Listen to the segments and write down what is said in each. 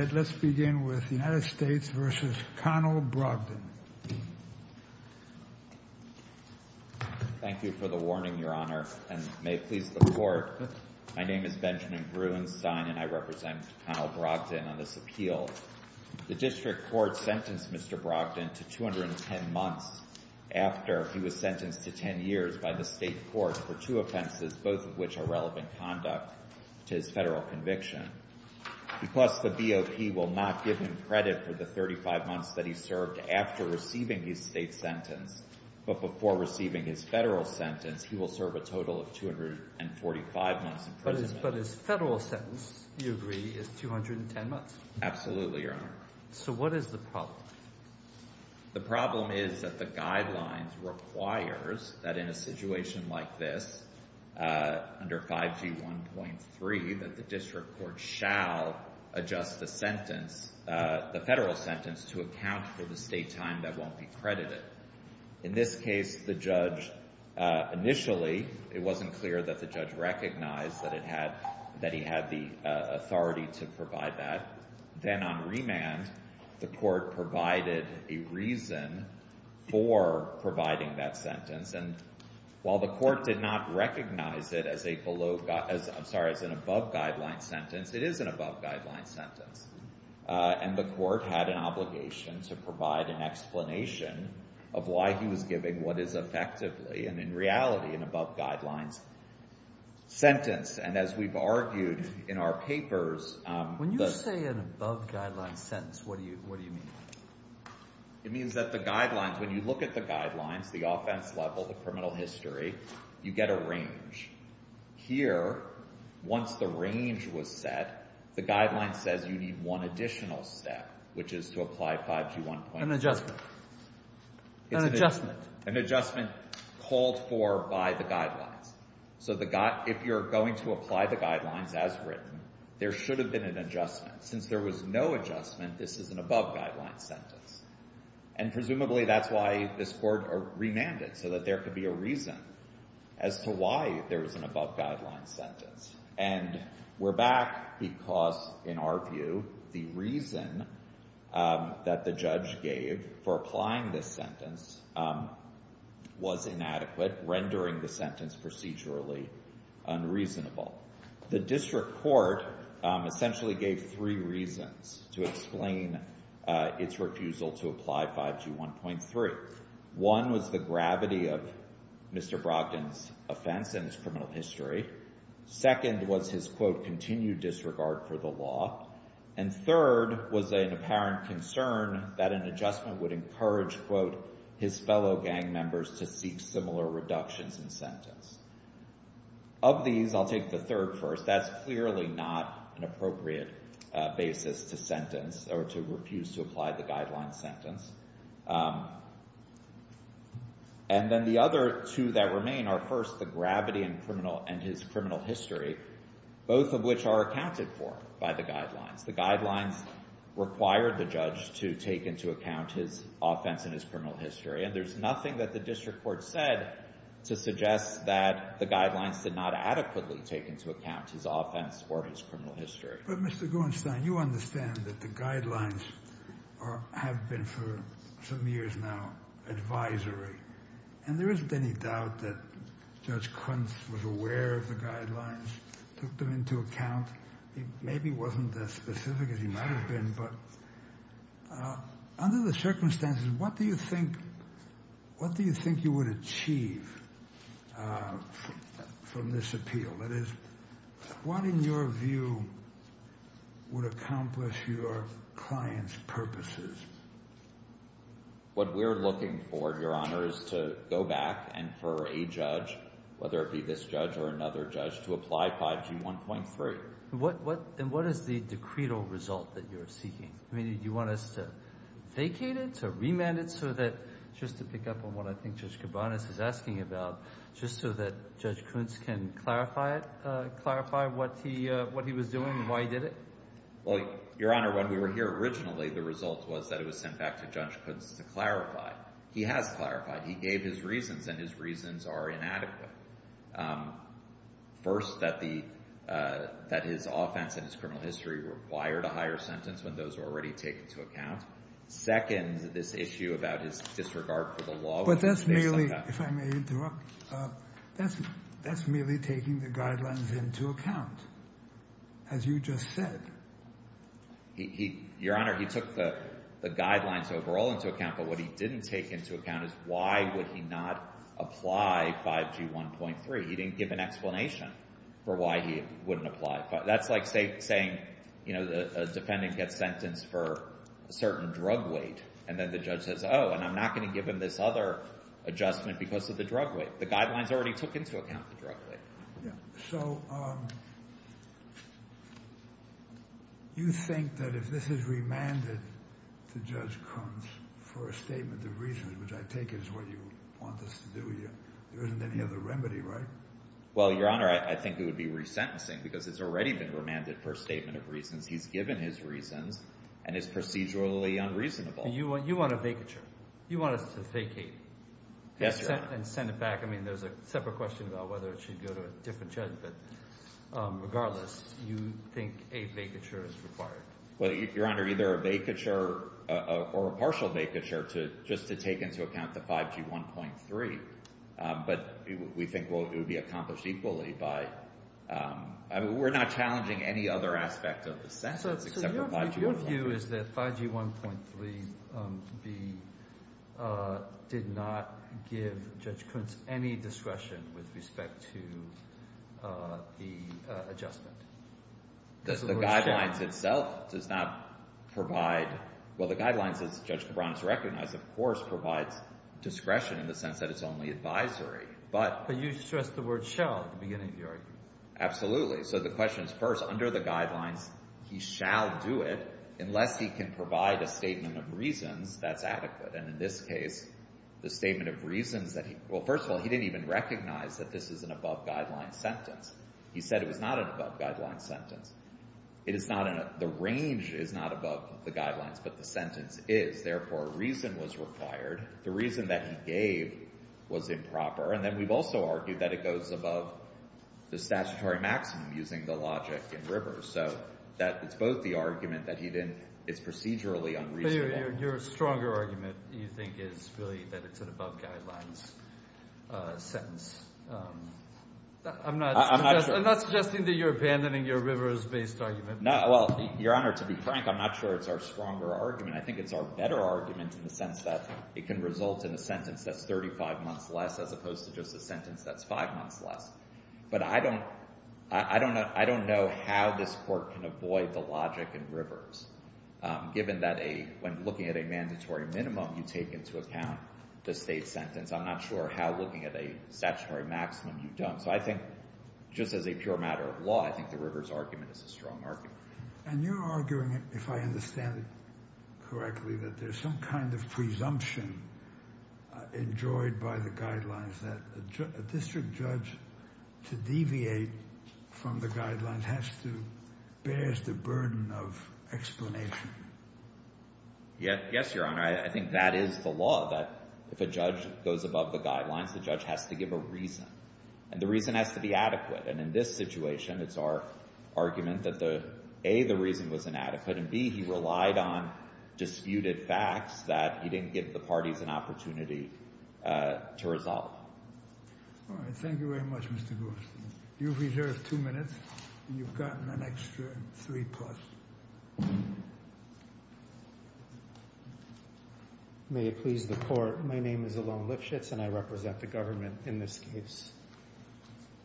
Thank you for the warning, Your Honor, and may it please the Court, my name is Benjamin Gruenstein and I represent Conald Brogdon on this appeal. The District Court sentenced Mr. Brogdon to 210 months after he was sentenced to 10 years by the State Court for two offenses, both of which are relevant conduct to his Federal conviction. Because the BOP will not give him credit for the 35 months that he served after receiving his State sentence, but before receiving his Federal sentence, he will serve a total of 245 months in prison. Robert Gershengorn But his Federal sentence, you agree, is 210 months? Benjamin Gruenstein Absolutely, Your Honor. Robert Gershengorn So what is the problem? Benjamin Gruenstein The problem is that the guidelines requires that in a situation like this, under 5G.1.3, that the District Court shall adjust the sentence, the Federal sentence, to account for the State time that won't be credited. In this case, the judge initially, it wasn't clear that the judge recognized that it had, that he had the authority to provide that. Then on the other hand, there was a reason for providing that sentence. And while the court did not recognize it as a below, I'm sorry, as an above-guideline sentence, it is an above-guideline sentence. And the court had an obligation to provide an explanation of why he was giving what is effectively, and in reality, an above-guidelines sentence. And as we've argued in our papers, the… Robert Gershengorn It means that the guidelines, when you look at the guidelines, the offense level, the criminal history, you get a range. Here, once the range was set, the guideline says you need one additional step, which is to apply 5G.1.3. Benjamin Gruenstein An adjustment. An adjustment. Robert Gershengorn An adjustment called for by the guidelines. So the, if you're going to apply the guidelines as written, there should have been an adjustment. Since there was no adjustment, this is an above-guideline sentence. And presumably that's why this court remanded, so that there could be a reason as to why there was an above-guideline sentence. And we're back because, in our view, the reason that the judge gave for applying this sentence was inadequate, rendering the sentence procedurally unreasonable. The district court essentially gave three reasons to explain its refusal to apply 5G.1.3. One was the gravity of Mr. Brockton's offense and his criminal history. Second was his, quote, continued disregard for the law. And third was an apparent concern that an adjustment would encourage, quote, his fellow gang members to seek similar reductions in sentence. Of these, I'll take the third first. That's clearly not an appropriate basis to sentence or to refuse to apply the guidelines sentence. And then the other two that remain are, first, the gravity and his criminal history, both of which are accounted for by the guidelines. The guidelines required the judge to take into account his offense and his criminal history. And there's nothing that the district court said to suggest that the guidelines did not adequately take into account his offense or his criminal history. But, Mr. Gorenstein, you understand that the guidelines have been for some years now advisory. And there isn't any doubt that Judge Kuntz was aware of the guidelines, took them into account. He maybe wasn't as specific as he might have been, but under the circumstances, what do you think, what do you think you would achieve from this appeal? That is, what, in your view, would accomplish your client's purposes? What we're looking for, Your Honor, is to go back and for a judge, whether it be this judge or another judge, to apply 5G 1.3. And what is the decreed result that you're seeking? I mean, do you want us to vacate it, to remand it, so that, just to pick up on what I think Judge Kabanis is asking about, just so that Judge Kuntz can clarify it, clarify what he was doing and why he did it? Well, Your Honor, when we were here originally, the result was that it was sent back to Judge Kuntz to clarify. He has clarified. He gave his reasons, and his reasons are inadequate. First, that the, that his offense and his criminal history required a higher sentence when those were already taken into account. Second, this issue about his disregard for the law. But that's merely, if I may interrupt, that's merely taking the guidelines into account, as you just said. Your Honor, he took the guidelines overall into account, but what he didn't take into account is why would he not apply 5G 1.3. He didn't give an explanation for why he wouldn't apply. That's like saying, you know, the defendant gets sentenced for a certain drug weight, and then the judge says, oh, and I'm not going to give him this other adjustment because of the drug weight. The guidelines already took into account the drug weight. So, you think that if this is remanded to Judge Kuntz for a statement of reasons, which I take is what you want this to do, there isn't any other remedy, right? Well, Your Honor, I think it would be resentencing, because it's already been remanded for a statement of reasons. He's given his reasons, and it's procedurally unreasonable. You want a vacature. You want us to vacate and send it back. I mean, there's a separate question about whether it should go to a different judge, but regardless, you think a vacature is required. Well, Your Honor, either a vacature or a partial vacature just to take into account the 5G 1.3. But we think it would be accomplished equally by – we're not challenging any other aspect of the sentence except for 5G 1.3. So your view is that 5G 1.3 did not give Judge Kuntz any discretion with respect to the adjustment? The guidelines itself does not provide – well, the guidelines, as Judge Cabran has recognized, of course, provides discretion in the sense that it's only advisory, but – But you stressed the word shall at the beginning of the argument. Absolutely. So the question is, first, under the guidelines, he shall do it, unless he can provide a statement of reasons that's adequate. And in this case, the statement of reasons that he – well, first of all, he didn't even recognize that this is an above-guidelines sentence. It is not in a – the range is not above the guidelines, but the sentence is. Therefore, a reason was required. The reason that he gave was improper. And then we've also argued that it goes above the statutory maximum using the logic in Rivers. So that's both the argument that he didn't – it's procedurally unreasonable. But your stronger argument, you think, is really that it's an above-guidelines sentence. I'm not suggesting that you're abandoning your Rivers-based argument. Well, Your Honor, to be frank, I'm not sure it's our stronger argument. I think it's our better argument in the sense that it can result in a sentence that's 35 months less, as opposed to just a sentence that's 5 months less. But I don't – I don't know how this Court can avoid the logic in Rivers, given that a – when looking at a mandatory minimum, you take into account the State sentence. I'm not sure how looking at a statutory maximum you don't. So I think just as a pure matter of law, I think the Rivers argument is a strong argument. And you're arguing, if I understand it correctly, that there's some kind of presumption enjoyed by the guidelines that a district judge to deviate from the guidelines has to – bears the burden of explanation. Yes, Your Honor. I think that is the law, that if a judge goes above the guidelines, the judge has to give a reason. And the reason has to be adequate. And in this situation, it's our argument that the – A, the reason was inadequate, and B, he relied on disputed facts that he didn't give the parties an opportunity to resolve. All right. Thank you very much, Mr. Gorsuch. You've reserved two minutes, and you've gotten an extra three-plus. May it please the Court, my name is Alon Lifshitz, and I represent the government in this case.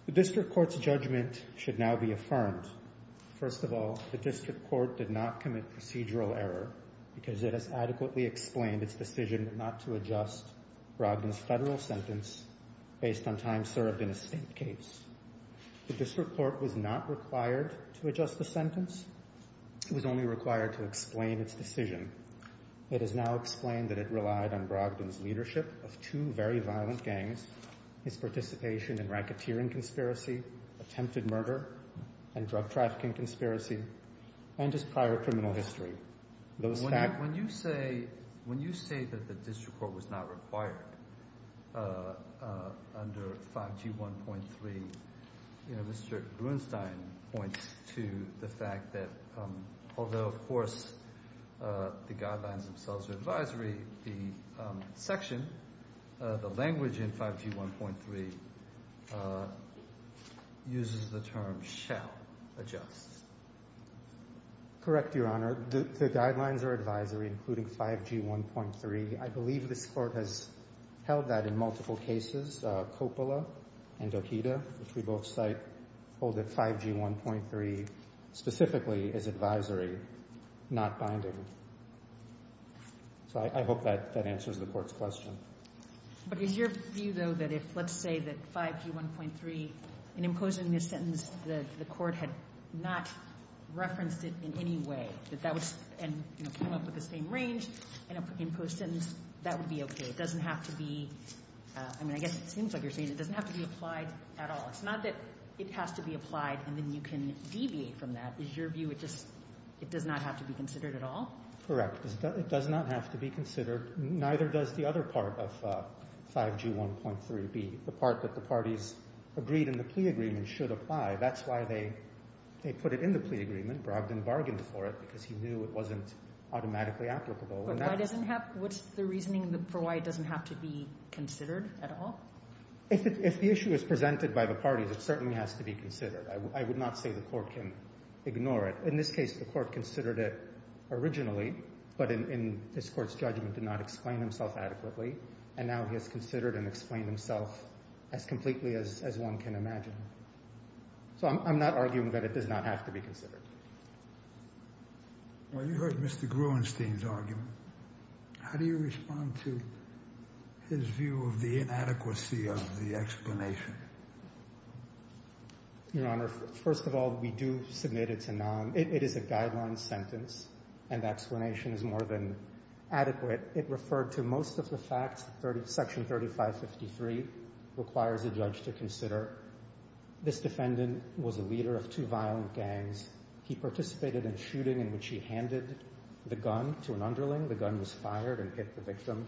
The district court's judgment should now be affirmed. First of all, the district court did not commit procedural error because it has adequately explained its decision not to adjust Brogdon's federal sentence based on time served in a State case. The district court was not required to adjust the sentence. It was only required to explain its decision. It has now explained that it relied on Brogdon's leadership of two very violent gangs, his participation in racketeering conspiracy, attempted murder, and drug trafficking conspiracy, and his prior criminal history. When you say that the district court was not required under 5G1.3, Mr. Brunstein points to the fact that although, of course, the guidelines themselves are advisory, the section, the language in 5G1.3, uses the term shall adjust. Correct, Your Honor. The guidelines are advisory, including 5G1.3. I believe this Court has held that in multiple cases. Coppola and Dohita, which we both cite, hold that 5G1.3 specifically is advisory, not binding. So I hope that answers the Court's question. But is your view, though, that if, let's say that 5G1.3, in imposing this sentence, the district court has not referenced it in any way, and came up with the same range, and imposed sentence, that would be okay? It doesn't have to be, I mean, I guess it seems like you're saying it doesn't have to be applied at all. It's not that it has to be applied and then you can deviate from that. Is your view it just, it does not have to be considered at all? Correct. It does not have to be considered. Neither does the other part of 5G1.3B, the part that the parties agreed in the plea agreement should apply. That's why they put it in the plea agreement. Bragg didn't bargain for it because he knew it wasn't automatically applicable. But why doesn't have, what's the reasoning for why it doesn't have to be considered at all? If the issue is presented by the parties, it certainly has to be considered. I would not say the Court can ignore it. In this case, the Court considered it originally, but in this Court's judgment did not explain himself adequately. And now he has considered and explained himself as completely as one can imagine. So I'm not arguing that it does not have to be considered. Well, you heard Mr. Gruenstein's argument. How do you respond to his view of the inadequacy of the explanation? Your Honor, first of all, we do submit it to NOM. It is a guideline sentence and the explanation is more than adequate. It referred to most of the facts. Section 3553 requires the judge to consider this defendant was a leader of two violent gangs. He participated in a shooting in which he handed the gun to an underling. The gun was fired and hit the victim.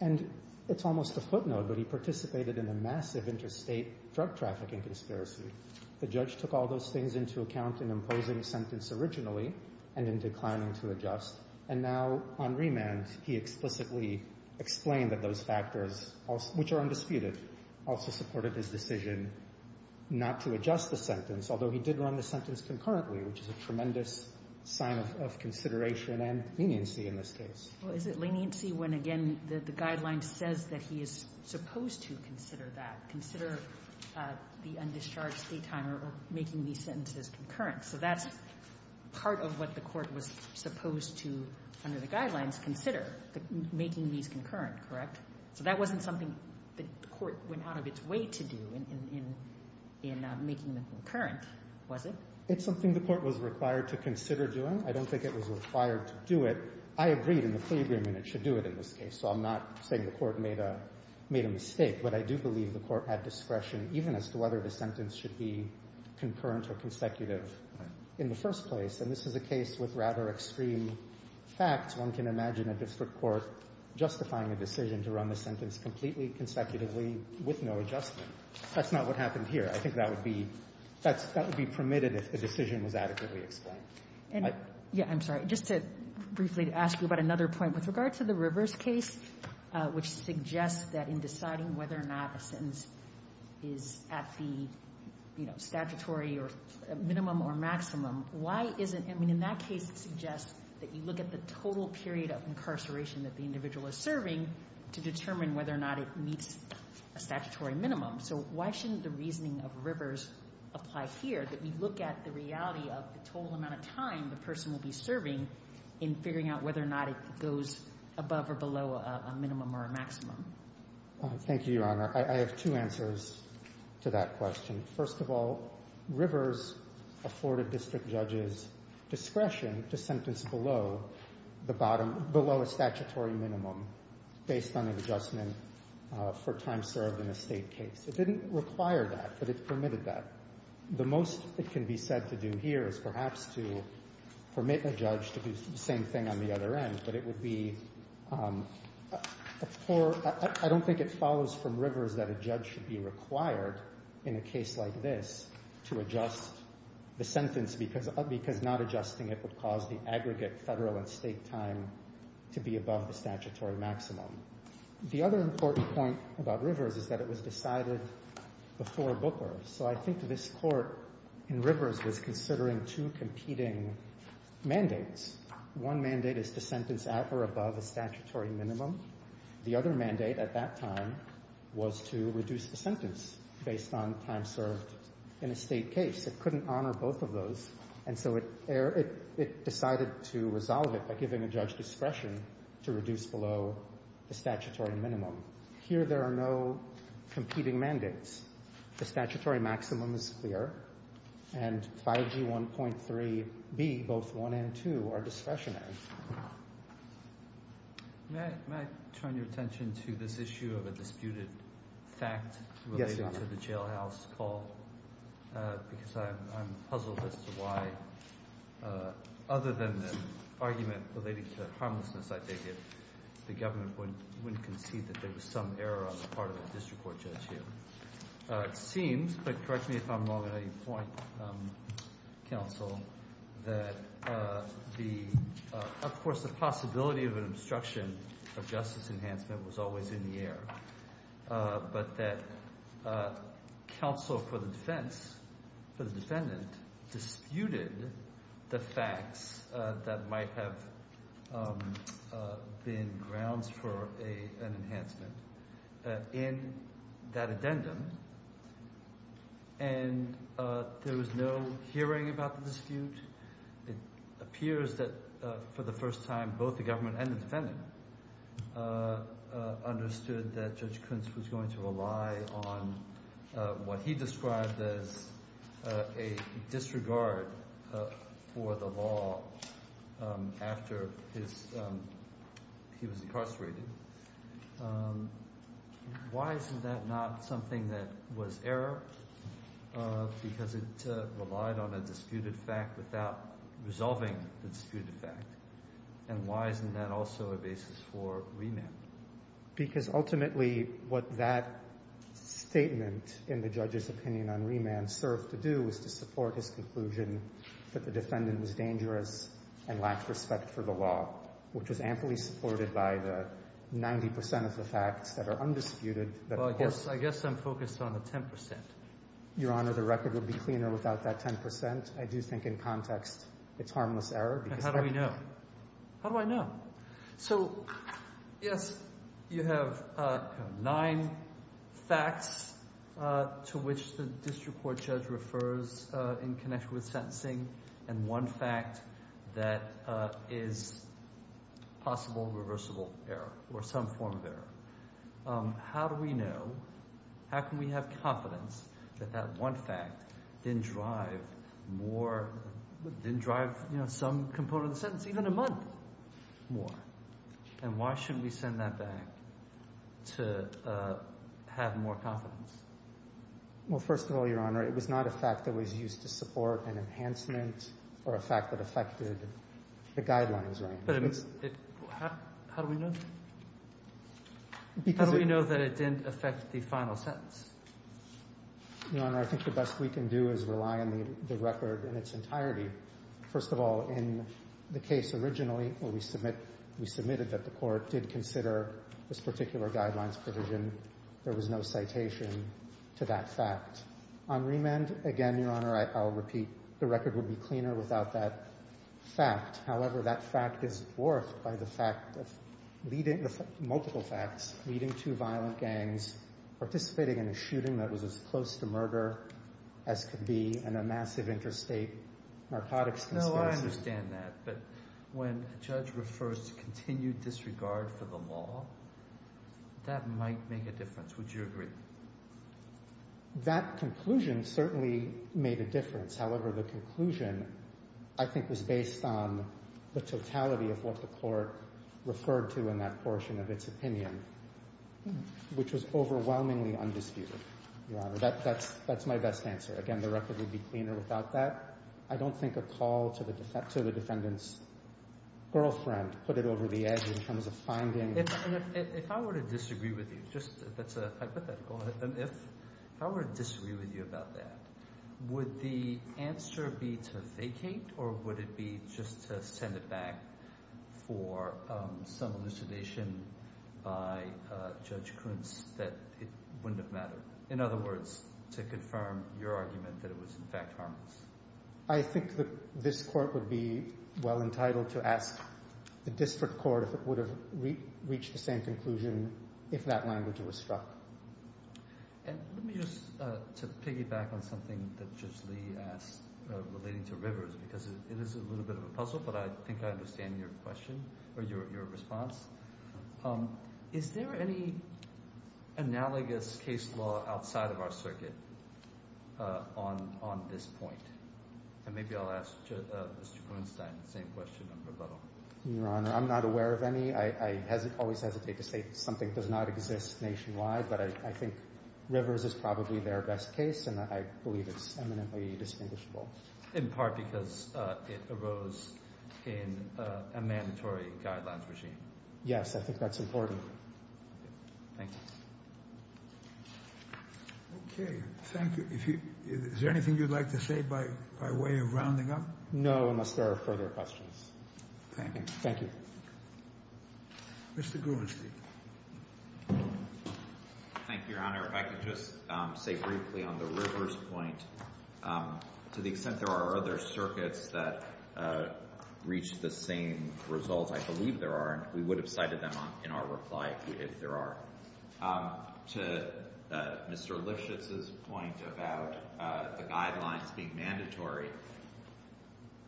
And it's almost a footnote, but he participated in a massive interstate drug trafficking conspiracy. The judge took all those things into account in imposing the sentence originally and in declining to adjust. And now on remand, he explicitly explained that those factors, which are undisputed, also supported his decision not to adjust the sentence, although he did run the sentence concurrently, which is a tremendous sign of consideration and leniency in this case. Well, is it leniency when, again, the guideline says that he is supposed to consider that, consider the undischarged stay time or making these sentences concurrent? So that's part of what the Court was supposed to, under the guidelines, consider, making these concurrent, correct? So that wasn't something the Court went out of its way to do in making them concurrent, was it? It's something the Court was required to consider doing. I don't think it was required to do it. I agreed in the plea agreement it should do it in this case, so I'm not saying the Court made a mistake. But I do believe the Court had discretion, even as to whether the sentence should be concurrent or consecutive in the first place. And this is a case with rather extreme facts. One can imagine a district court justifying a decision to run the sentence completely consecutively with no adjustment. That's not what happened here. I think that would be permitted if the decision was adequately explained. And, yeah, I'm sorry, just to briefly ask you about another point. With regard to the Rivers case, which suggests that in deciding whether or not a sentence is at the, you know, statutory or minimum or maximum, why isn't the Court justifying the sentence? I mean, in that case, it suggests that you look at the total period of incarceration that the individual is serving to determine whether or not it meets a statutory minimum. So why shouldn't the reasoning of Rivers apply here, that we look at the reality of the total amount of time the person will be serving in figuring out whether or not it goes above or below a minimum or a maximum? Thank you, Your Honor. I have two answers to that question. First of all, Rivers afforded district judges discretion to sentence below the bottom, below a statutory minimum based on an adjustment for time served in a state case. It didn't require that, but it permitted that. The most it can be said to do here is perhaps to permit a judge to do the same thing on the other end, but it would be a poor, I don't think it follows from Rivers that a judge should be required in a case like this to adjust the sentence because not adjusting it would cause the aggregate federal and state time to be above the statutory maximum. The other important point about Rivers is that it was decided before Booker. So I think this Court in Rivers was considering two competing mandates. One mandate is to sentence at or above a statutory minimum. The other mandate at that time was to reduce the sentence based on time served in a state case. It couldn't honor both of those, and so it decided to resolve it by giving a judge discretion to reduce below the statutory minimum. Here there are no competing mandates. The statutory maximum is clear, and 5G1.3B, both 1 and 2, are discretionary. May I turn your attention to this issue of a disputed fact related to the jailhouse call? Because I'm puzzled as to why, other than the argument related to harmlessness, I think the government wouldn't concede that there was some error on the part of a district court judge here. It seems, but correct me if I'm wrong on any point, counsel, that of course the possibility of an obstruction of justice enhancement was always in the air, but that counsel for the defense, for the defendant, disputed the facts that might have been grounds for an enhancement in that There was no hearing about the dispute. It appears that for the first time both the government and the defendant understood that Judge Kuntz was going to rely on what he described as a disregard for the law after he was incarcerated. Why isn't that not something that was error? Because it relied on a disputed fact without resolving the disputed fact. And why isn't that also a basis for remand? Because ultimately what that statement in the judge's opinion on remand served to do was to support his conclusion that the defendant was dangerous and lacked respect for the law, which was amply supported by the 90 percent of the facts that are undisputed. I guess I'm focused on the 10 percent. Your Honor, the record would be cleaner without that 10 percent. I do think in context it's harmless error. How do we know? How do I know? So yes, you have nine facts to which the district court judge refers in connection with sentencing and one fact that is possible reversible error or some form of error. How do we know? How can we have confidence that that one fact didn't drive some component of the sentence, even a month, more? And why shouldn't we send that back to have more confidence? Well, first of all, Your Honor, it was not a fact that was used to support an enhancement or a fact that affected the guidelines. But how do we know? How do we know that it didn't affect the final sentence? Your Honor, I think the best we can do is rely on the record in its entirety. First of all, in the case originally where we submitted that the court did consider this particular guidelines provision, there was no citation to that fact. On remand, again, Your Honor, I'll repeat, the record would be cleaner without that fact. However, that fact is dwarfed by the fact of leading multiple facts, leading two violent gangs, participating in a shooting that was as close to murder as could be, and a massive interstate narcotics conspiracy. I understand that, but when a judge refers to continued disregard for the law, that might make a difference. Would you agree? That conclusion certainly made a difference. However, the conclusion I think was based on the totality of what the court referred to in that portion of its opinion, which was overwhelmingly undisputed, Your Honor. That's my best answer. Again, the record would be cleaner without that. I don't think a call to the defendant's girlfriend put it over the edge in terms of finding— If I were to disagree with you, just that's a hypothetical. If I were to disagree with you about that, would the answer be to vacate or would it be just to send it back for some elucidation by Judge Kuntz that it wouldn't have mattered? In other words, to confirm your argument that it was in fact harmless. I think that this court would be well entitled to ask the district court if it would have reached the same conclusion if that language was struck. Let me just piggyback on something that Judge Lee asked relating to rivers because it is a little bit of a puzzle, but I think I understand your question or your response. Is there any analogous case law outside of our circuit on this point? And maybe I'll ask Mr. Kuenstein the same question in rebuttal. Your Honor, I'm not aware of any. I always hesitate to say something does not exist nationwide, but I think rivers is probably their best case and I believe it's eminently distinguishable. In part because it arose in a mandatory guidelines regime. Yes, I think that's important. Thank you. Okay, thank you. Is there anything you'd like to say by way of rounding up? No, unless there are further questions. Thank you. Thank you. Mr. Kuenstein. Thank you, Your Honor. If I could just say briefly on the rivers point, to the extent there are other circuits that reach the same results, I believe there are, and we would have cited them in our reply if there are. To Mr. Lifshitz's point about the guidelines being mandatory,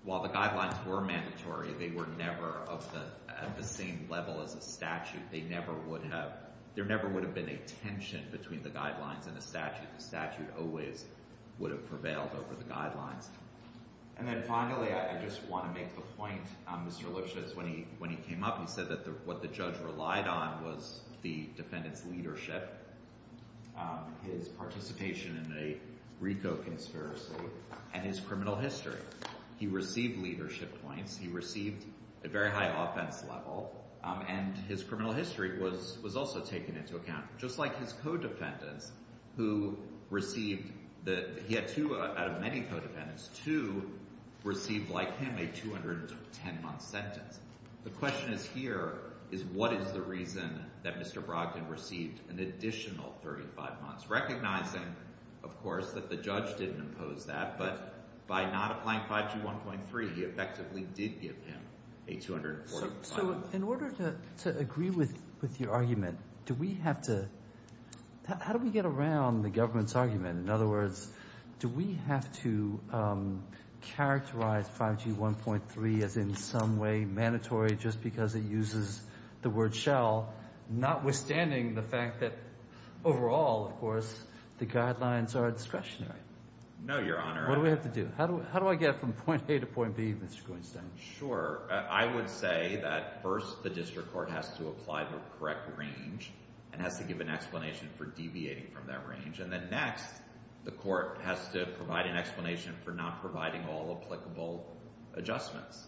while the guidelines were mandatory, they were never at the same level as a statute. They never would have, there never would have been a tension between the guidelines and the statute. The statute always would have prevailed over the guidelines. And then finally, I just want to make the point, Mr. Lifshitz, when he came up, he said that what the judge relied on was the defendant's leadership, his participation in a RICO conspiracy, and his criminal history. He received leadership points. He received a very high offense level, and his criminal history was also taken into account. Just like his co-defendants, who received, he had two out of many co-defendants, two received like him a 210-month sentence. The question is here, is what is the reason that Mr. Brogdon received an additional 35 months, recognizing, of course, that the judge didn't impose that, but by not applying 5G 1.3, he effectively did give him a 240-month sentence. So in order to agree with your argument, do we have to, how do we get around the government's argument? In other words, do we have to characterize 5G 1.3 as in some way mandatory, just because it uses the word shall, notwithstanding the fact that overall, of course, the guidelines are discretionary? No, Your Honor. What do we have to do? How do I get from point A to point B, Mr. Greenstein? Sure. I would say that first, the district court has to apply the correct range and has to give an explanation for deviating from that range. And then next, the court has to provide an explanation for not providing all applicable adjustments.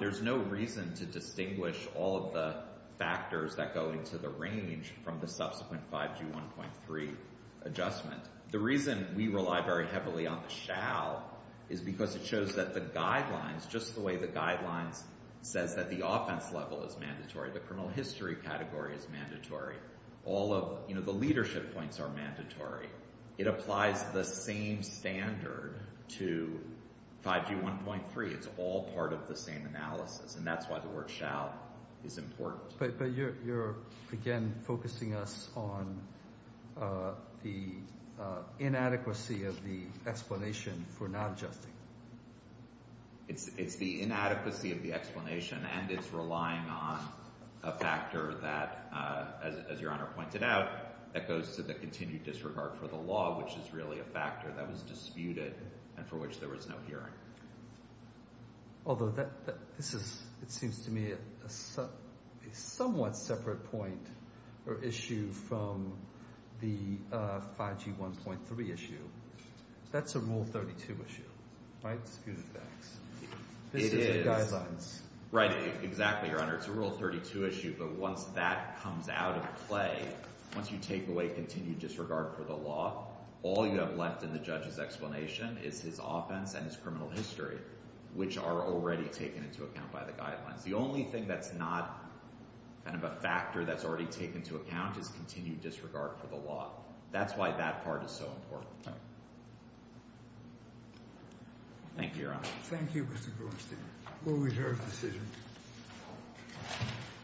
There's no reason to distinguish all of the factors that go into the range from the subsequent 5G 1.3 adjustment. The reason we rely very heavily on the shall is because it shows that the guidelines, just the way the guidelines says that the offense level is mandatory, the criminal history category is mandatory, all of the leadership points are mandatory. It applies the same standard to 5G 1.3. It's all part of the same analysis, and that's why the word shall is important. But you're, again, focusing us on the inadequacy of the explanation for not adjusting. It's the inadequacy of the explanation, and it's relying on a factor that, as Your Honor pointed out, that goes to the continued disregard for the law, which is really a factor that was disputed and for which there was no hearing. Although this is, it seems to me, a somewhat separate point or issue from the 5G 1.3 issue. That's a Rule 32 issue, right? Disputed facts. It is. This is the guidelines. Right. Exactly, Your Honor. It's a Rule 32 issue, but once that comes out of play, once you take away continued disregard for the law, all you have left in the judge's explanation is his offense and his criminal history, which are already taken into account by the guidelines. The only thing that's not kind of a factor that's already taken into account is continued disregard for the law. That's why that part is so important. Right. Thank you, Your Honor. Thank you, Mr. Groenstein. We'll reserve the decision.